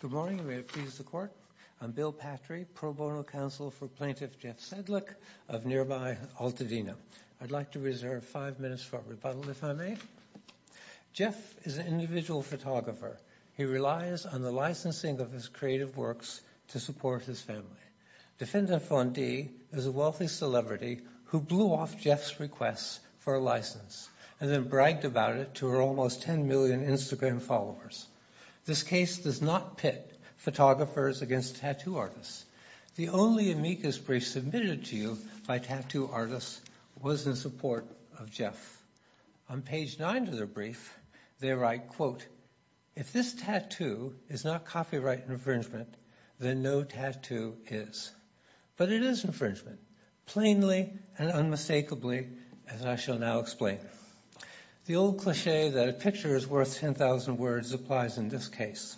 Good morning and may it please the Court. I'm Bill Patry, pro bono counsel for plaintiff Jeff Sedlik of nearby Altadena. I'd like to reserve five minutes for a rebuttal if I may. Jeff is an individual photographer. He relies on the licensing of his creative works to support his family. Defendant Von D is a wealthy celebrity who blew off Jeff's requests for license and then bragged about it to her almost 10 million Instagram followers. This case does not pit photographers against tattoo artists. The only amicus brief submitted to you by tattoo artists was in support of Jeff. On page nine of their brief they write, quote, if this tattoo is not copyright infringement then no tattoo is. But it is infringement, plainly and unmistakably as I shall now explain. The old cliche that a picture is worth 10,000 words applies in this case.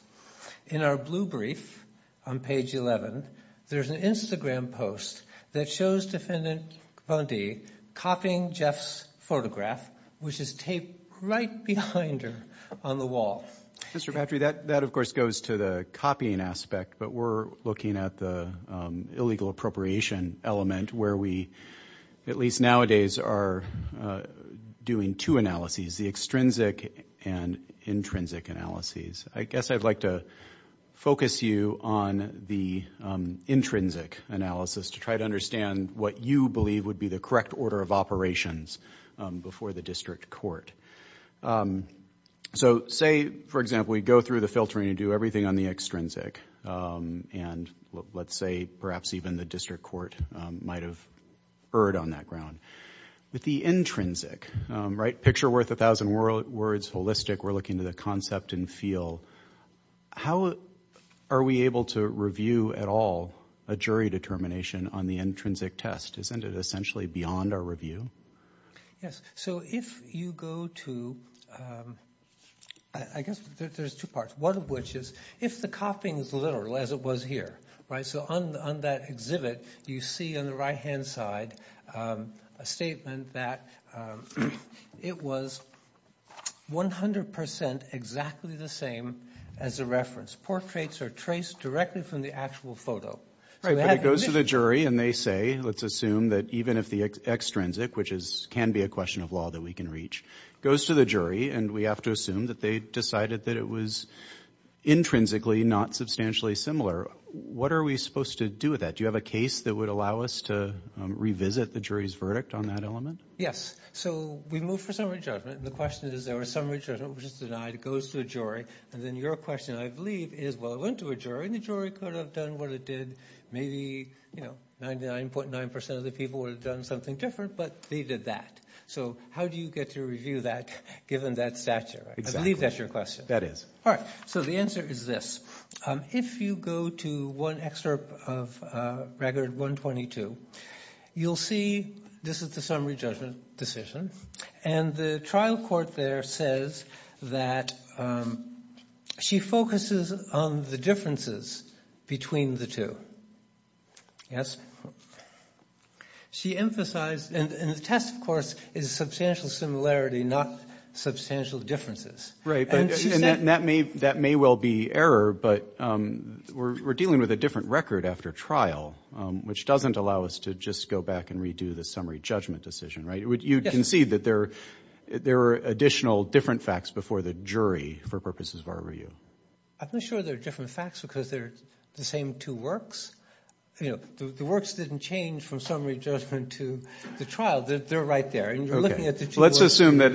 In our blue brief on page 11 there's an Instagram post that shows Defendant Von D copying Jeff's photograph which is taped right behind her on the wall. Mr. Patry, that of course goes to the copying aspect but we're looking at the illegal appropriation element where we at least nowadays are doing two analyses, the extrinsic and intrinsic analyses. I guess I'd like to focus you on the intrinsic analysis to try to understand what you believe would be the correct order of operations before the district court. So say for example we go through the filtering and do everything on the extrinsic and let's say perhaps even the district court might have erred on that ground. With the intrinsic, picture worth a thousand words, holistic, we're looking to the concept and feel. How are we able to review at all a jury determination on the intrinsic test? Isn't it essentially beyond our review? Yes. So if you go to, I guess there's two parts. One of which is if the copying is literal as it was here. So on that exhibit you see on the right hand side a statement that it was 100% exactly the same as the reference. Portraits are traced directly from the actual photo. Right, but it goes to the jury and they say, let's assume that even if the extrinsic, which can be a question of law that we can reach, goes to the jury and we have to assume that they decided that it was intrinsically not substantially similar. What are we supposed to do with that? Do you have a case that would allow us to revisit the jury's verdict on that element? Yes. So we move for summary judgment and the question is there was summary judgment which is denied. It goes to a jury and then your question I believe is, well it went to a jury and the jury could have done what it did. Maybe 99.9% of the people would have done something different but they did that. So how do you get to review that given that stature? I believe that's your question. That is. All right, so the answer is this. If you go to one excerpt of Record 122, you'll see this is the summary judgment decision and the trial court there says that she focuses on the differences between the two. Yes? She emphasized, and the test of course is substantial similarity not substantial differences. Right, and that may well be error but we're dealing with a different record after trial which doesn't allow us to just go back and redo the summary judgment decision, right? You can see that there are additional different facts before the jury for purposes of our review. I'm not sure they're different facts because they're the same two works. The works didn't change from summary judgment to the trial. They're right there. Let's assume that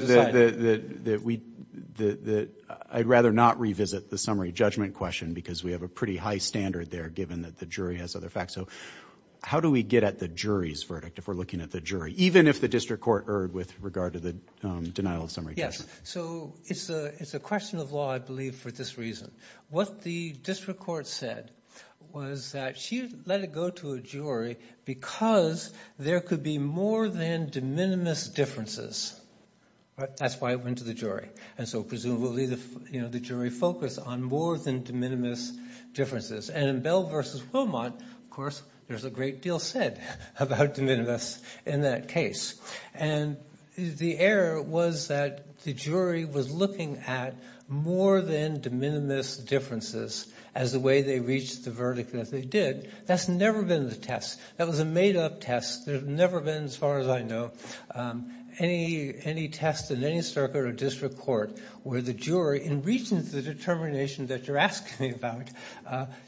I'd rather not revisit the summary judgment question because we have a pretty high standard there given that the jury has other facts. So how do we get at the jury's verdict if we're looking at the jury even if the district court erred with regard to the denial of summary judgment? Yes, so it's a question of law I believe for this reason. What the district court said was that she let it go to a jury because there could be more than de minimis differences, right? That's why it went to the jury and so presumably the, you know, the jury focused on more than de minimis differences and in Bell versus Wilmot of course there's a great deal said about de minimis in that case and the error was that the jury was looking at more than de minimis differences as the way they reached the verdict that they did. That's never been the test. That was a made-up test. There's never been, as far as I know, any test in any circuit or district court where the jury in reaching the determination that you're asking me about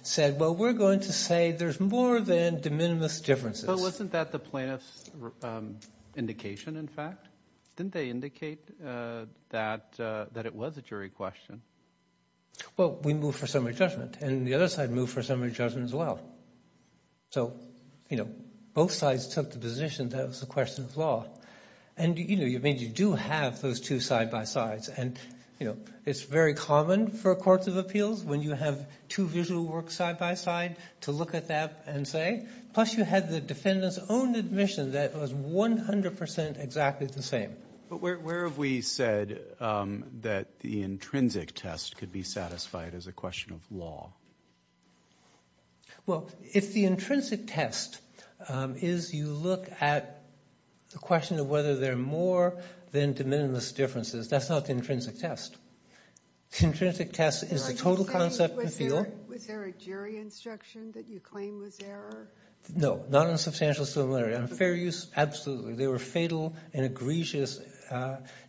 said, well, we're going to say there's more than de minimis differences. But wasn't that the plaintiff's indication in fact? Didn't they indicate that it was a jury question? Well, we moved for summary judgment and the other side moved for summary judgment as well. So, you know, both sides took the position that it was a question of law. And, you know, you do have those two side-by-sides and, you know, it's very common for courts of appeals when you have two visual works side-by-side to look at that and say, plus you had the defendant's own admission that was 100% exactly the same. But where have we said that the intrinsic test could be satisfied as a question of law? Well, if the intrinsic test is you look at the question of whether there are more than de minimis differences, that's not the intrinsic test. The intrinsic test is the total concept and feel. Was there a jury instruction that you claim was error? No, not in substantial similarity. On fair use, absolutely. There were fatal and egregious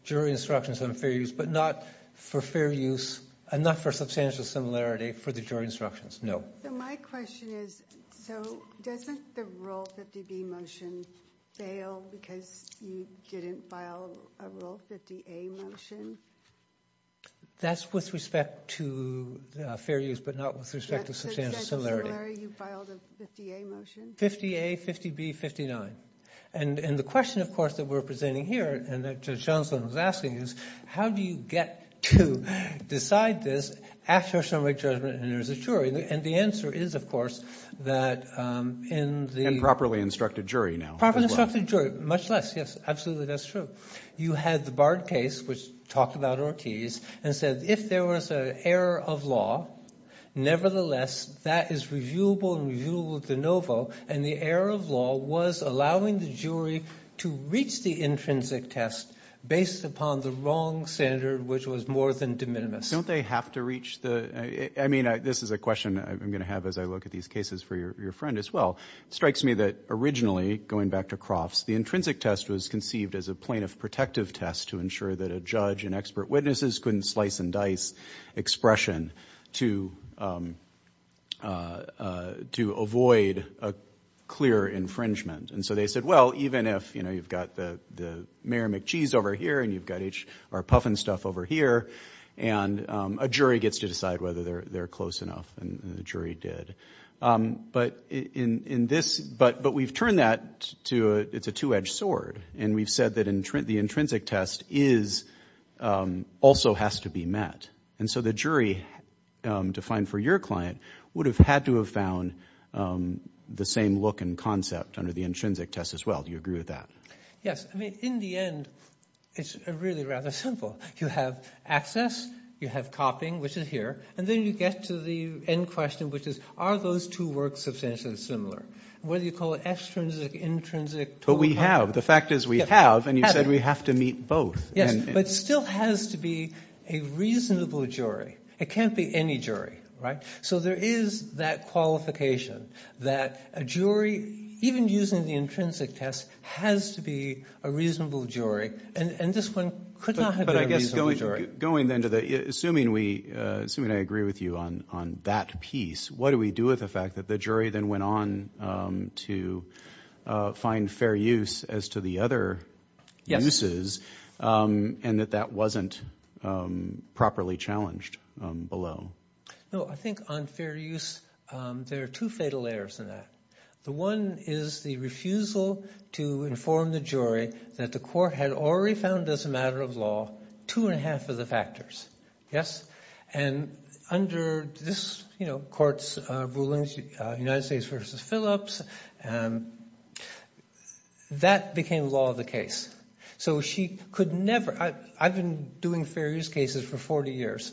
jury instructions on fair use, but not for fair use and not for substantial similarity for the jury instructions. No. So my question is, so doesn't the Rule 50B motion fail because you didn't file a Rule 50A motion? That's with respect to fair use, but not with respect to substantial similarity. You filed a 50A motion? 50A, 50B, 59. And the question, of course, that we're presenting here and that Judge you get to decide this after a summary judgment and there's a jury. And the answer is, of course, that in the... And properly instructed jury now. Properly instructed jury, much less. Yes, absolutely, that's true. You had the Bard case, which talked about Ortiz, and said if there was an error of law, nevertheless, that is reviewable and reviewable de novo. And the error of law was allowing the jury to reach the intrinsic test based upon the wrong standard, which was more than de minimis. Don't they have to reach the... I mean, this is a question I'm going to have as I look at these cases for your friend as well. It strikes me that originally, going back to Crofts, the intrinsic test was conceived as a plaintiff protective test to ensure that a judge and expert witnesses couldn't slice and dice expression to avoid a clear infringement. And so they said, well, even if you've got the Mary McCheese over here and you've got our Puffin stuff over here, and a jury gets to decide whether they're close enough, and the jury did. But in this... But we've turned that to... It's a two-edged sword. And we've said that the intrinsic test also has to be met. And so the jury, defined for your client, would have had to have found the same look and concept under the intrinsic test as well. Do you agree with that? Yes. I mean, in the end, it's really rather simple. You have access, you have copying, which is here, and then you get to the end question, which is, are those two works substantially similar? Whether you call it extrinsic, intrinsic... But we have. The fact is we have, and you said we have to meet both. Yes, but it still has to be a reasonable jury. It can't be any jury, right? So there is that qualification that a jury, even using the intrinsic test, has to be a reasonable jury, and this one could not have been a reasonable jury. But I guess going then to the... Assuming we... Assuming I agree with you on that piece, what do we do with the fact that the jury then went on to find fair use as to the other uses, and that that wasn't properly challenged below? No, I think on fair use, there are two fatal errors in that. The one is the refusal to inform the jury that the court had already found as a matter of law two and a half of the factors. Yes? And under this court's rulings, United States versus Phillips, that became law of the case. So she could never... I've been doing fair use cases for 40 years,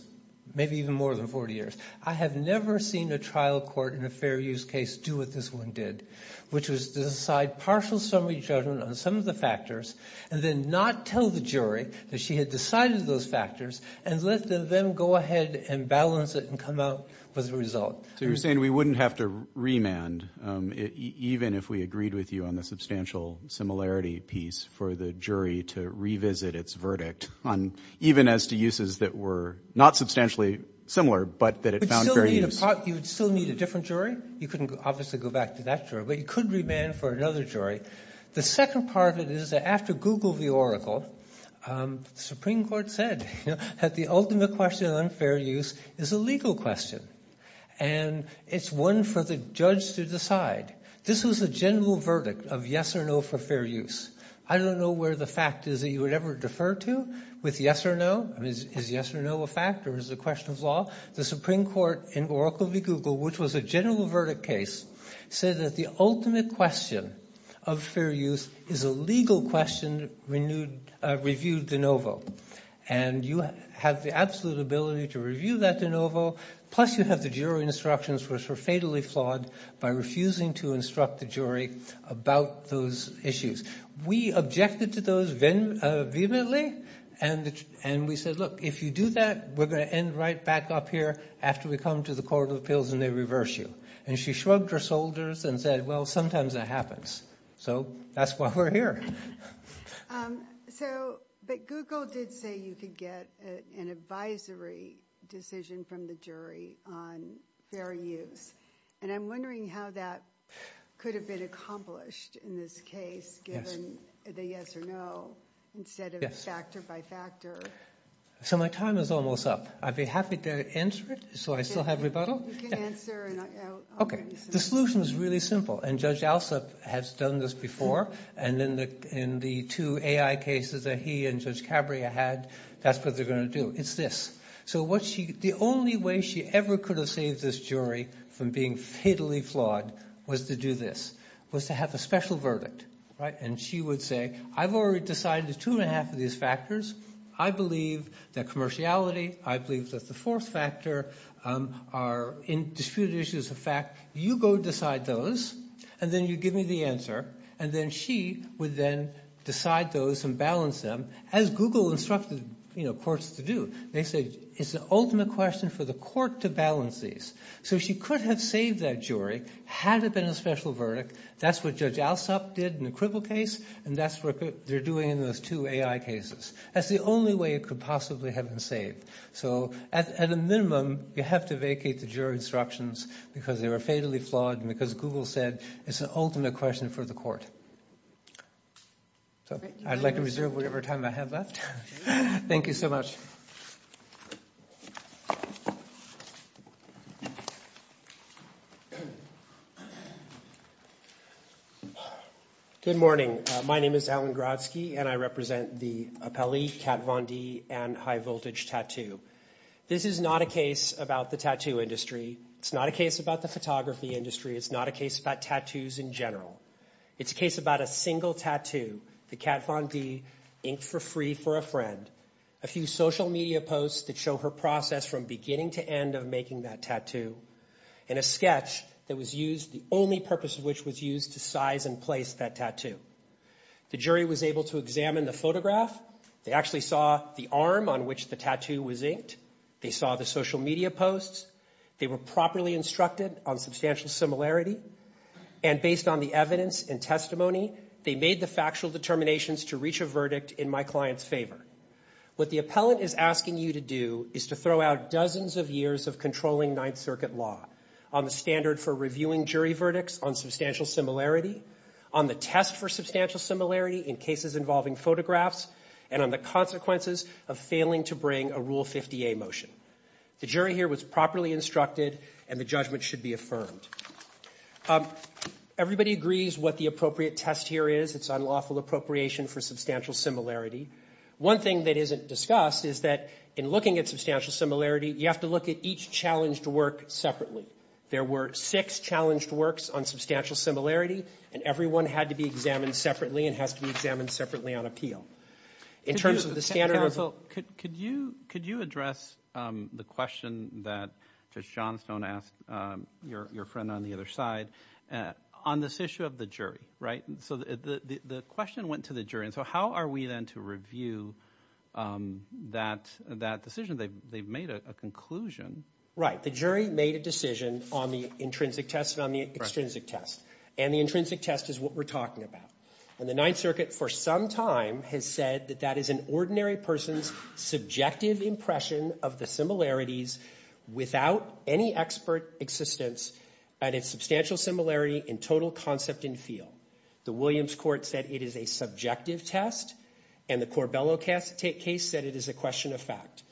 maybe even more than 40 years. I have never seen a trial court in a fair use case do what this one did, which was to decide partial summary judgment on some of the factors, and then not tell the jury that she had decided those factors, and let them go ahead and balance it and come out with a result. So you're saying we wouldn't have to remand, even if we agreed with you on the substantial similarity piece for the jury to revisit its verdict, even as to uses that were not substantially similar, but that it found fair use? You would still need a different jury. You couldn't obviously go back to that jury, but you could remand for another jury. The second part of it is that after Google v. Oracle, the Supreme Court said that the ultimate question on fair use is a legal question, and it's one for the judge to decide. This was a general verdict of yes or no for fair use. I don't know where the fact is that you would ever defer to with yes or no. Is yes or no a fact, or is it a question of law? The Supreme Court in Oracle v. Google, which was a general verdict case, said that the ultimate question of fair use is a legal question reviewed de novo, and you have the absolute ability to review that de novo, plus you have the jury instructions, which were fatally flawed by refusing to instruct the jury about those issues. We objected to those vehemently, and we said, look, if you do that, we're going to end right back up here after we come to the Court of Appeals and they reverse you. And she shrugged her shoulders and said, well, sometimes that happens. So that's why we're here. But Google did say you could get an advisory decision from the jury on fair use, and I'm wondering how that could have been accomplished in this case, given the yes or no, instead of factor by factor. So my time is almost up. I'd be happy to answer it, so I still have rebuttal. You can answer, and I'll get you some answers. Okay. The solution is really simple, and Judge Alsop has done this before, and in the two AI cases that he and Judge Cabrera had, that's what they're going to do. It's this. So the only way she ever could have saved this jury from being fatally flawed was to do this, was to have a special verdict. And she would say, I've already decided there's two and a half of these factors. I believe that commerciality, I believe that the fourth factor are disputed issues of fact. You go decide those, and then you give me the answer. And then she would then decide those and balance them, as Google instructed courts to do. They said, it's the ultimate question for the court to balance these. So she could have saved that jury had it been a special verdict. That's what Judge Alsop did in the cripple case, and that's what they're doing in those two AI cases. That's the only way it could possibly have been saved. So at a minimum, you have to vacate the jury instructions because they were fatally flawed and because Google said, it's the ultimate question for the court. So I'd like to reserve whatever time I have left. Thank you so much. Good morning. My name is Alan Grotsky, and I represent the Appellee, Kat Von D, and High Voltage Tattoo. This is not a case about the tattoo industry. It's not a case about the photography industry. It's not a case about tattoos in general. It's a case about a single post that show her process from beginning to end of making that tattoo, and a sketch that was used, the only purpose of which was used to size and place that tattoo. The jury was able to examine the photograph. They actually saw the arm on which the tattoo was inked. They saw the social media posts. They were properly instructed on substantial similarity, and based on the evidence and testimony, they made the factual determinations to reach a verdict in my client's favor. What the appellant is asking you to do is to throw out dozens of years of controlling Ninth Circuit law on the standard for reviewing jury verdicts on substantial similarity, on the test for substantial similarity in cases involving photographs, and on the consequences of failing to bring a Rule 50A motion. The jury here was properly instructed, and the judgment should be affirmed. Everybody agrees what the appropriate test here is. It's discussed is that in looking at substantial similarity, you have to look at each challenged work separately. There were six challenged works on substantial similarity, and every one had to be examined separately and has to be examined separately on appeal. In terms of the standard of... Could you address the question that Judge Johnstone asked your friend on the other side on this issue of the jury, right? So the question went to the jury, and so how are we then to review that decision? They've made a conclusion. Right. The jury made a decision on the intrinsic test and on the extrinsic test, and the intrinsic test is what we're talking about. And the Ninth Circuit for some time has said that that is an ordinary person's subjective impression of the similarities without any expert existence at its substantial similarity in total concept and feel. The Williams Court said it is a subjective test, and the Corbello case said it is a question of fact.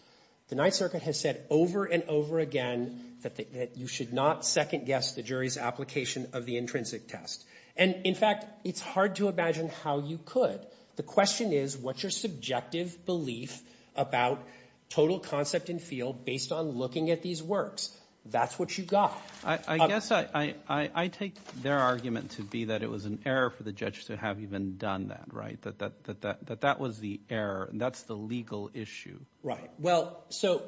The Ninth Circuit has said over and over again that you should not second-guess the jury's application of the intrinsic test. And, in fact, it's hard to imagine how you could. The question is, what's your subjective belief about total concept and feel based on looking at these works? That's what you got. I guess I take their argument to be that it was an error for the judge to have even done that, right? That that was the error, and that's the legal issue. Right. Well, so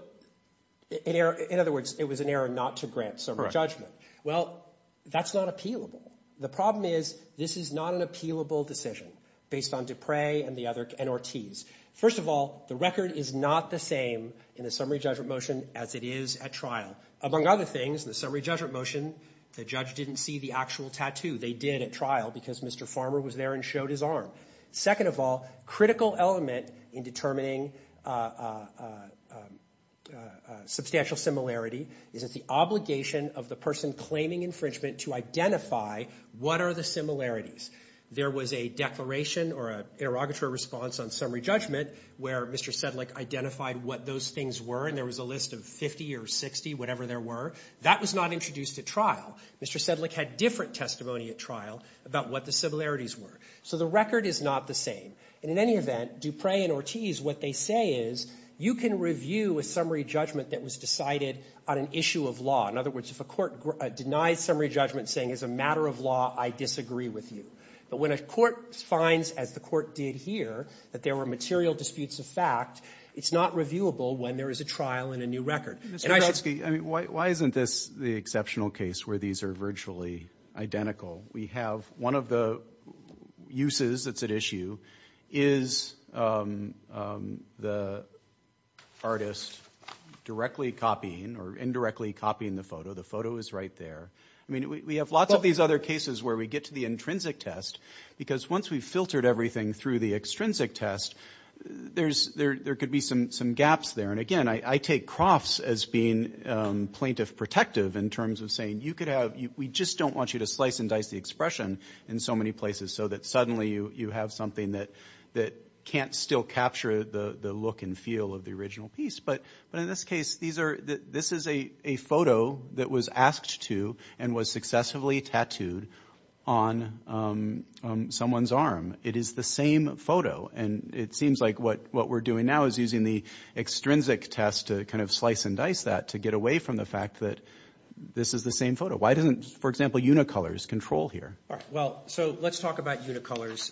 in other words, it was an error not to grant summary judgment. Well, that's not appealable. The problem is, this is not an appealable decision based on Dupre and the other NRTs. First of all, the record is not the same in the summary judgment motion as it is at trial. Among other things, in the summary judgment motion, the judge didn't see the actual they did at trial because Mr. Farmer was there and showed his arm. Second of all, critical element in determining substantial similarity is that the obligation of the person claiming infringement to identify what are the similarities. There was a declaration or an interrogatory response on summary judgment where Mr. Sedlik identified what those things were, and there was a list of 50 or 60, whatever there were. That was not introduced at trial. Mr. Sedlik had different testimony at trial about what the similarities were. So the record is not the same. And in any event, Dupre and Ortiz, what they say is, you can review a summary judgment that was decided on an issue of law. In other words, if a court denies summary judgment saying, as a matter of law, I disagree with you. But when a court finds, as the court did here, that there were material disputes of fact, it's not reviewable when there is a trial and a new virtually identical. We have one of the uses that's at issue is the artist directly copying or indirectly copying the photo. The photo is right there. I mean, we have lots of these other cases where we get to the intrinsic test because once we've filtered everything through the extrinsic test, there could be some gaps there. And again, I take Crofts as being plaintiff protective in terms of saying, we just don't want you to slice and dice the expression in so many places so that suddenly you have something that can't still capture the look and feel of the original piece. But in this case, this is a photo that was asked to and was successively tattooed on someone's arm. It is the same photo. And it seems like what we're doing now is using the extrinsic test to kind of slice and dice that to get away from the fact that this is the same photo. Why doesn't, for example, Unicolors control here? All right. Well, so let's talk about Unicolors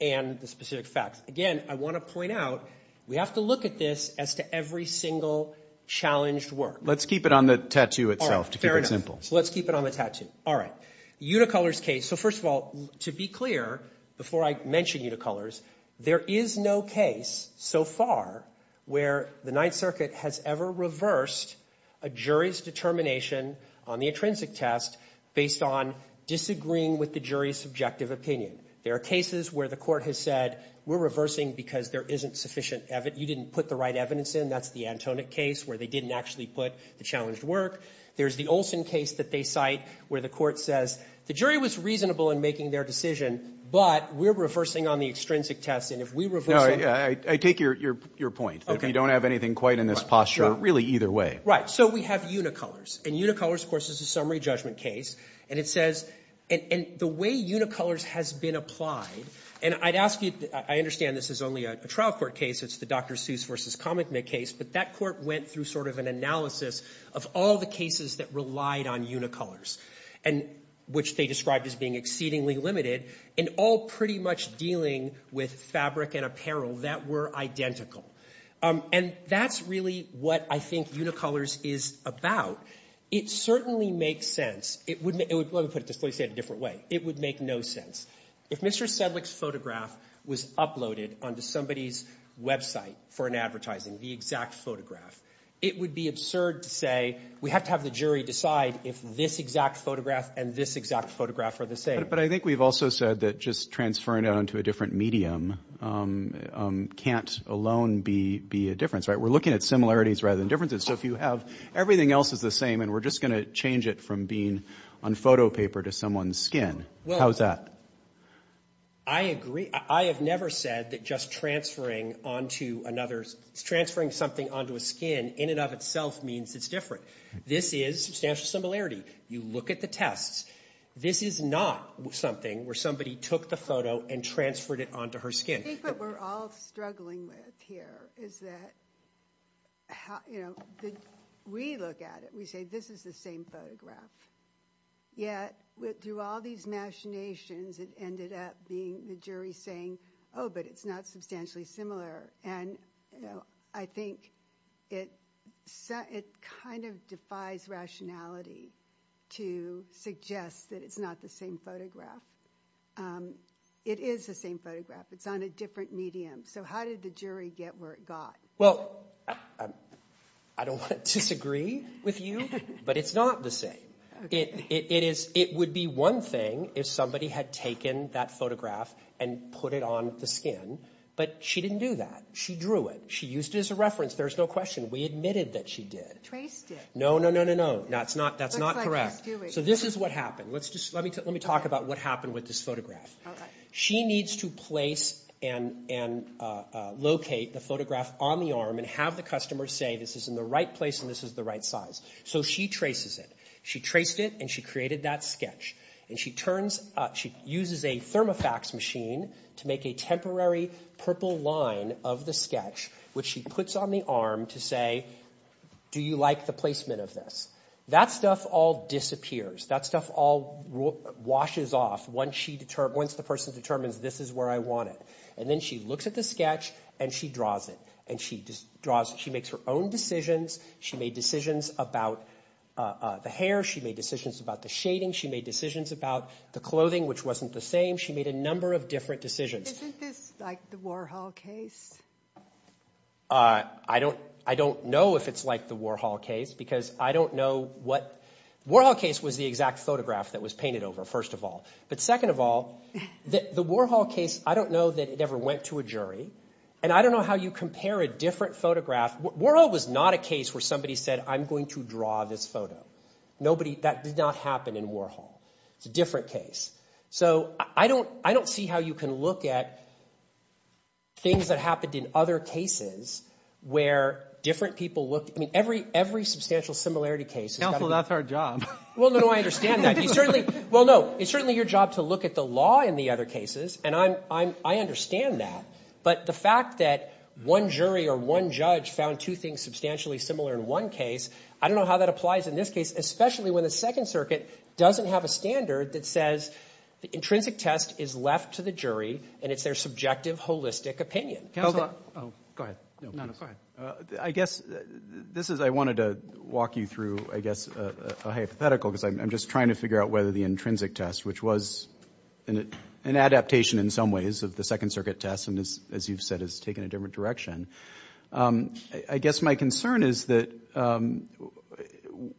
and the specific facts. Again, I want to point out, we have to look at this as to every single challenged work. Let's keep it on the tattoo itself to keep it simple. Let's keep it on the tattoo. All right. Unicolors case. So first of all, to be clear, before I mention Unicolors, there is no case so far where the Ninth Circuit has ever reversed a jury's determination on the intrinsic test based on disagreeing with the jury's subjective opinion. There are cases where the court has said, we're reversing because there isn't sufficient, you didn't put the right evidence in. That's the Antonic case where they didn't actually put the challenged work. There's the Olson case that they cite where the court says, the jury was reasonable in making their decision, but we're reversing on the extrinsic test. And if we reverse... No, I take your point that we don't have anything quite in this posture, really, either way. Right. So we have Unicolors. And Unicolors, of course, is a summary judgment case. And it says, and the way Unicolors has been applied, and I'd ask you, I understand this is only a trial court case. It's the Dr. Seuss versus Kamekmid case. But that court went through an analysis of all the cases that relied on Unicolors, which they described as being exceedingly limited, and all pretty much dealing with fabric and apparel that were identical. And that's really what I think Unicolors is about. It certainly makes sense. It would, let me put it this way, say it a different way. It would make no sense. If Mr. Sedlik's photograph was uploaded onto somebody's website for an advertising, the exact photograph, it would be absurd to say, we have to have the jury decide if this exact photograph and this exact photograph are the same. But I think we've also said that just transferring it onto a different medium can't alone be a difference, right? We're looking at similarities rather than differences. So if you have, everything else is the same, and we're just going to change it from being on photo paper to someone's skin. How's that? I agree. I have never said that just transferring onto another, transferring something onto a skin in and of itself means it's different. This is substantial similarity. You look at the tests. This is not something where somebody took the photo and transferred it onto her skin. I think what we're all struggling with here is that, you know, we look at it, we say, this is the same photograph. Yet through all these machinations, it ended up being the jury saying, oh, but it's not substantially similar. And I think it kind of defies rationality to suggest that it's not the same photograph. It is the same photograph. It's on a different medium. So how did the jury get where it got? Well, I don't want to disagree with you, but it's not the same. It would be one thing if somebody had taken that photograph and put it on the skin, but she didn't do that. She drew it. She used it as a reference. There's no question. We admitted that she did. Traced it. No, no, no, no, no. That's not correct. So this is what happened. Let me talk about what happened with this photograph. She needs to place and locate the photograph on the arm and have the jury trace it. She traced it and she created that sketch. And she turns, she uses a thermofax machine to make a temporary purple line of the sketch, which she puts on the arm to say, do you like the placement of this? That stuff all disappears. That stuff all washes off once the person determines this is where I want it. And then she looks at the sketch and she draws it. And she draws, she makes her own decisions. She made decisions about the hair. She made decisions about the shading. She made decisions about the clothing, which wasn't the same. She made a number of different decisions. Isn't this like the Warhol case? I don't know if it's like the Warhol case because I don't know what, Warhol case was the exact photograph that was painted over, first of all. But second of all, the Warhol case, I don't know that it ever went to a jury. And I don't know how you compare a different photograph. Warhol was not a case where somebody said, I'm going to draw this photo. Nobody, that did not happen in Warhol. It's a different case. So I don't, I don't see how you can look at things that happened in other cases where different people looked. I mean, every, every substantial similarity case. Counsel, that's our job. Well, no, no, I understand that. You certainly, well, no, it's certainly your job to look at the other cases. And I'm, I'm, I understand that. But the fact that one jury or one judge found two things substantially similar in one case, I don't know how that applies in this case, especially when the Second Circuit doesn't have a standard that says the intrinsic test is left to the jury and it's their subjective holistic opinion. Counsel, oh, go ahead. I guess this is, I wanted to walk you through, I guess, a hypothetical because I'm just trying to figure out whether the intrinsic test, which was an adaptation in some ways of the Second Circuit test, and as you've said, has taken a different direction. I guess my concern is that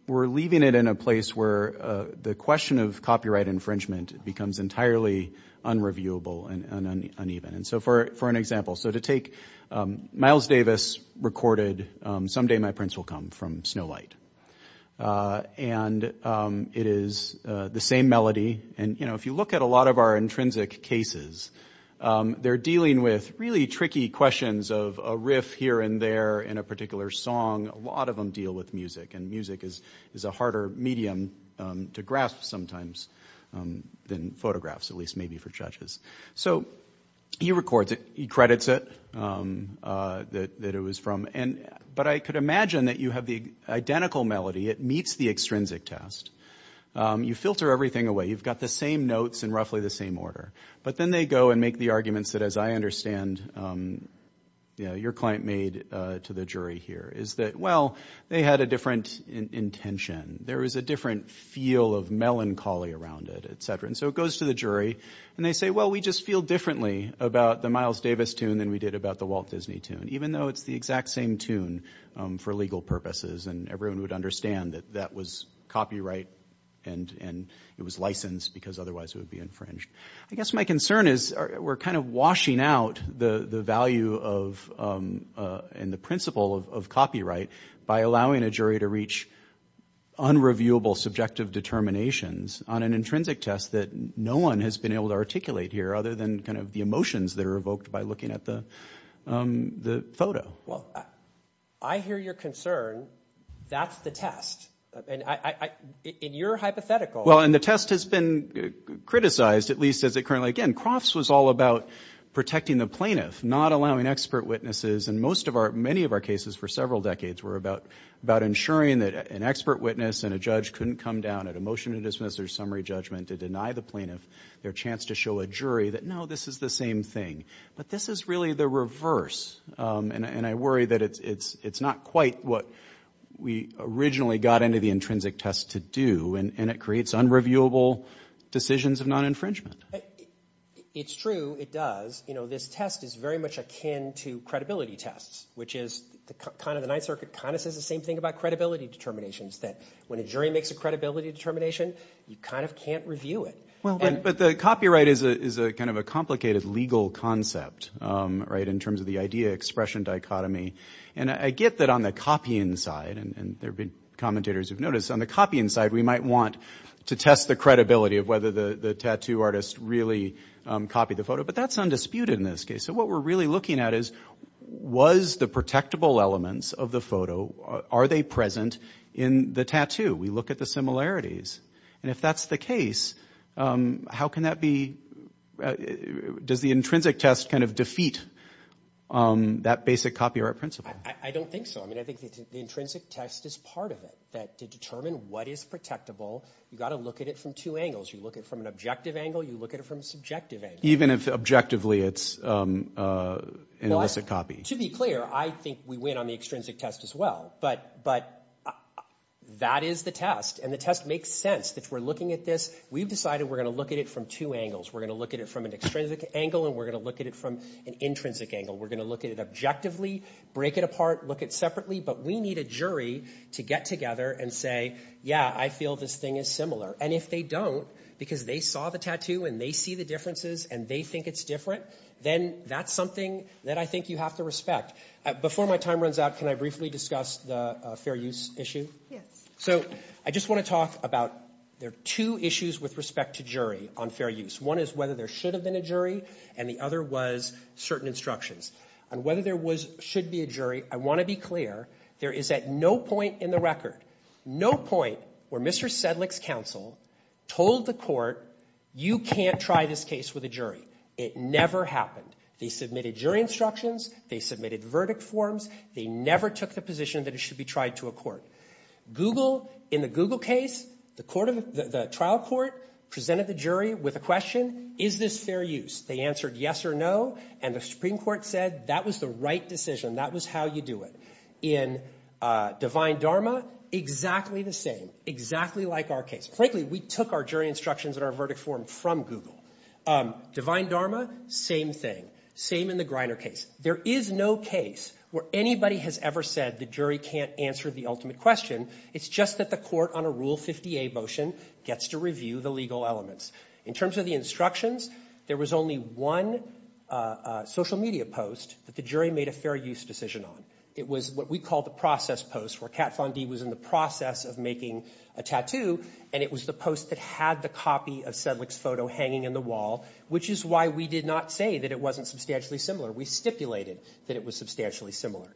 we're leaving it in a place where the question of copyright infringement becomes entirely unreviewable and uneven. And so for, for an example, so to take Miles Davis recorded, Someday My Prince Will Come from Snow Light. And it is the same melody. And, you know, if you look at a lot of our intrinsic cases, they're dealing with really tricky questions of a riff here and there in a particular song. A lot of them deal with music and music is, is a harder medium to grasp sometimes than photographs, at least maybe for judges. So he records it, he credits it, that it was from, but I could imagine that you have the identical melody. It meets the extrinsic test. You filter everything away. You've got the same notes in roughly the same order. But then they go and make the arguments that, as I understand, your client made to the jury here, is that, well, they had a different intention. There is a different feel of melancholy around it, etc. And so it goes to the jury and they say, well, we just feel differently about the Miles Davis tune than we did about the Walt Disney tune, even though it's the exact same tune for legal purposes. And everyone would understand that that was copyright and, and it was licensed because otherwise it would be infringed. I guess my concern is we're kind of washing out the value of, and the principle of copyright by allowing a jury to reach unreviewable subjective determinations on an intrinsic test that no one has been able to articulate here other than kind of the emotions that are evoked by looking at the, the photo. Well, I hear your concern. That's the test. And I, in your hypothetical. Well, and the test has been criticized, at least as it currently, again, Crofts was all about protecting the plaintiff, not allowing expert witnesses. And most of our, many of our cases for several decades were about, about ensuring that an expert witness and a judge couldn't come down at a motion to dismiss their summary judgment to deny the plaintiff their chance to show a jury that, no, this is the same thing, but this is really the reverse. And I worry that it's, it's, it's not quite what we originally got into the intrinsic test to do. And it creates unreviewable decisions of non-infringement. It's true. It does. You know, this test is very much akin to credibility tests, which is the kind of the Ninth Circuit kind of says the same thing about credibility determinations that when a jury makes a credibility determination, you kind of can't review it. Well, but the copyright is a, is a kind of a complicated legal concept, right? In terms of the idea, expression, dichotomy. And I get that on the copying side and there've been commentators who've noticed on the copying side, we might want to test the credibility of whether the tattoo artist really copied the photo, but that's undisputed in this case. So what we're really looking at is, was the protectable elements of the photo, are they present in the tattoo? We look at the similarities. And if that's the case, how can that be, does the intrinsic test kind of defeat that basic copyright principle? I don't think so. I mean, I think the intrinsic test is part of it, that to determine what is protectable, you got to look at it from two angles. You look at it from an objective angle, you look at it from a subjective angle. Even if objectively it's an illicit copy. To be clear, I think we win on the extrinsic test as well, but, but that is the test. And the test makes sense that we're looking at this, we've decided we're going to look at it from two angles. We're going to look at it from an extrinsic angle and we're going to look at it from an intrinsic angle. We're going to look at it objectively, break it apart, look at separately, but we need a jury to get together and say, yeah, I feel this thing is similar. And if they don't, because they saw the tattoo and they see the differences and they think it's different, then that's something that I think you have to respect. Before my time runs out, can I briefly discuss the fair use issue? Yes. So I just want to talk about, there are two issues with respect to jury on fair use. One is whether there should have been a jury and the other was certain instructions. And whether there was, should be a jury, I want to be clear, there is at no point in the record, no point, where Mr. Sedlick's counsel told the court, you can't try this case with a jury. It never happened. They submitted jury instructions. They submitted verdict forms. They never took the position that it should be tried to a court. Google, in the Google case, the trial court presented the jury with a question, is this fair use? They answered yes or no. And the Supreme Court said that was the right decision. That was how you do it. In Divine Dharma, exactly the same. Exactly like our case. Frankly, we took our jury instructions and our verdict form from Google. Divine Dharma, same thing. Same in the Griner case. There is no case where anybody has ever said the jury can't answer the ultimate question. It's just that the court on a Rule 50A motion gets to review the elements. In terms of the instructions, there was only one social media post that the jury made a fair use decision on. It was what we call the process post, where Kat Von D was in the process of making a tattoo, and it was the post that had the copy of Sedlick's photo hanging in the wall, which is why we did not say that it wasn't substantially similar. We stipulated that it was substantially similar.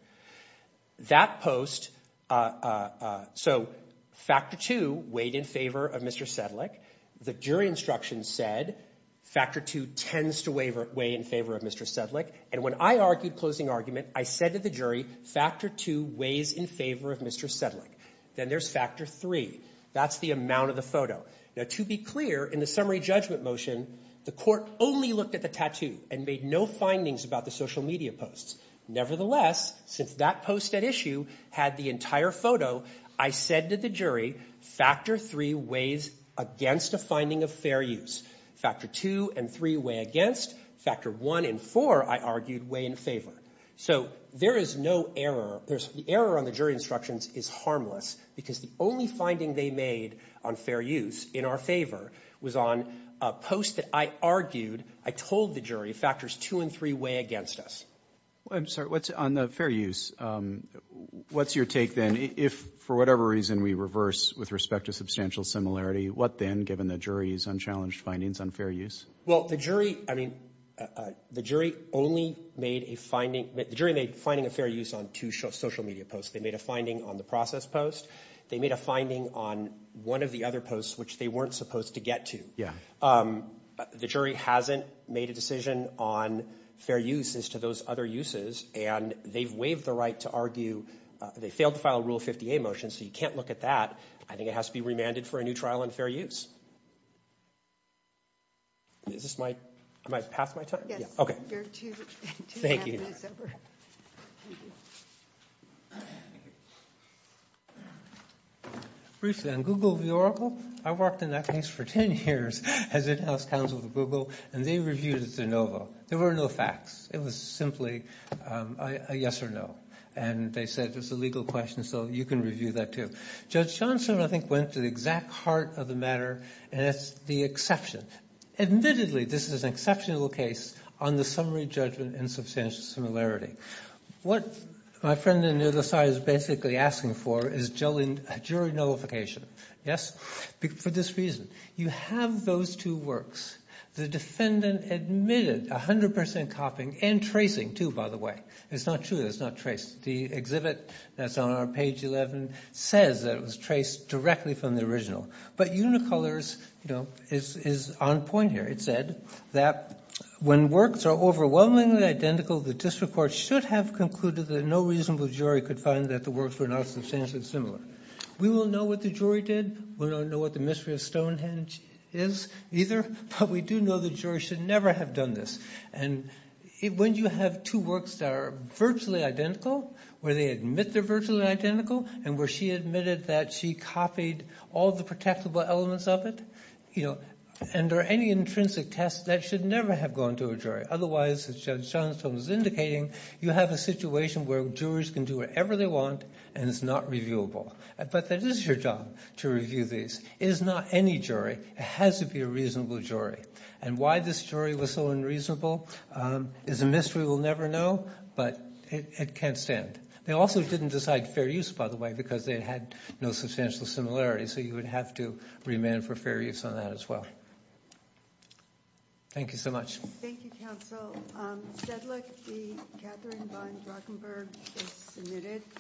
So, factor two weighed in favor of Mr. Sedlick. The jury instructions said factor two tends to weigh in favor of Mr. Sedlick. And when I argued closing argument, I said to the jury, factor two weighs in favor of Mr. Sedlick. Then there's factor three. That's the amount of the photo. Now, to be clear, in the summary judgment motion, the court only looked at the tattoo and made no findings about the social media posts. Nevertheless, since that post at issue had the entire photo, I said to the jury, factor three weighs against a finding of fair use. Factor two and three weigh against. Factor one and four, I argued, weigh in favor. So there is no error. The error on the jury instructions is harmless, because the only finding they made on fair use, in our favor, was on a post that I argued, I told the jury, factors two and three weigh against us. Roberts. I'm sorry. What's on the fair use? What's your take, then, if for whatever reason we reverse with respect to substantial similarity, what then, given the jury's unchallenged findings on fair use? Well, the jury, I mean, the jury only made a finding the jury made finding a fair use on two social media posts. They made a finding on the process post. They made a finding on one of the other posts, which they weren't supposed to get to. Yeah. The jury hasn't made a decision on fair use as to those other uses, and they've waived the right to argue, they failed to file a Rule 50A motion, so you can't look at that. I think it has to be remanded for a new trial on fair use. Is this my, am I past my time? Yes. Okay. You're two minutes over. Thank you. Briefly, on Google v. Oracle, I worked in that case for 10 years as in-house counsel for Google, and they reviewed it as de novo. There were no facts. It was simply a yes or no, and they said it was a legal question, so you can review that, too. Judge Johnson, I think, went to the exact heart of the matter, and that's the exception. Admittedly, this is an exceptional case on the summary judgment in substantial similarity. What my friend on the other side is basically asking for is jury nullification. Yes, for this reason. You have those two works. The defendant admitted 100% copying and tracing, too, by the way. It's not true that it's not traced. The exhibit that's on our page 11 says that it was traced directly from the original, but Unicolors is on point here. It said that when works are overwhelmingly identical, the district court should have concluded that no reasonable jury could find that the works were not substantially similar. We will know what the jury did. We don't know what the mystery of Stonehenge is, either, but we do know the jury should never have done this. When you have two works that are virtually identical, where they admit they're virtually identical, and where she admitted that she copied all the protectable elements of it, and there are any intrinsic tests, that should never have gone to a jury. Otherwise, as Judge Johnstone is indicating, you have a situation where jurors can do whatever they want, and it's not reviewable. But that is your job, to review these. It is not any jury. It has to be a reasonable jury. And why this jury was so unreasonable is a mystery we'll never know, but it can't stand. They also didn't decide fair use, by the way, because they had no substantial similarity, so you would have to remand for fair use on that as well. Thank you so much. Thank you, counsel. Stedlick, Catherine von Drachenberg, is submitted.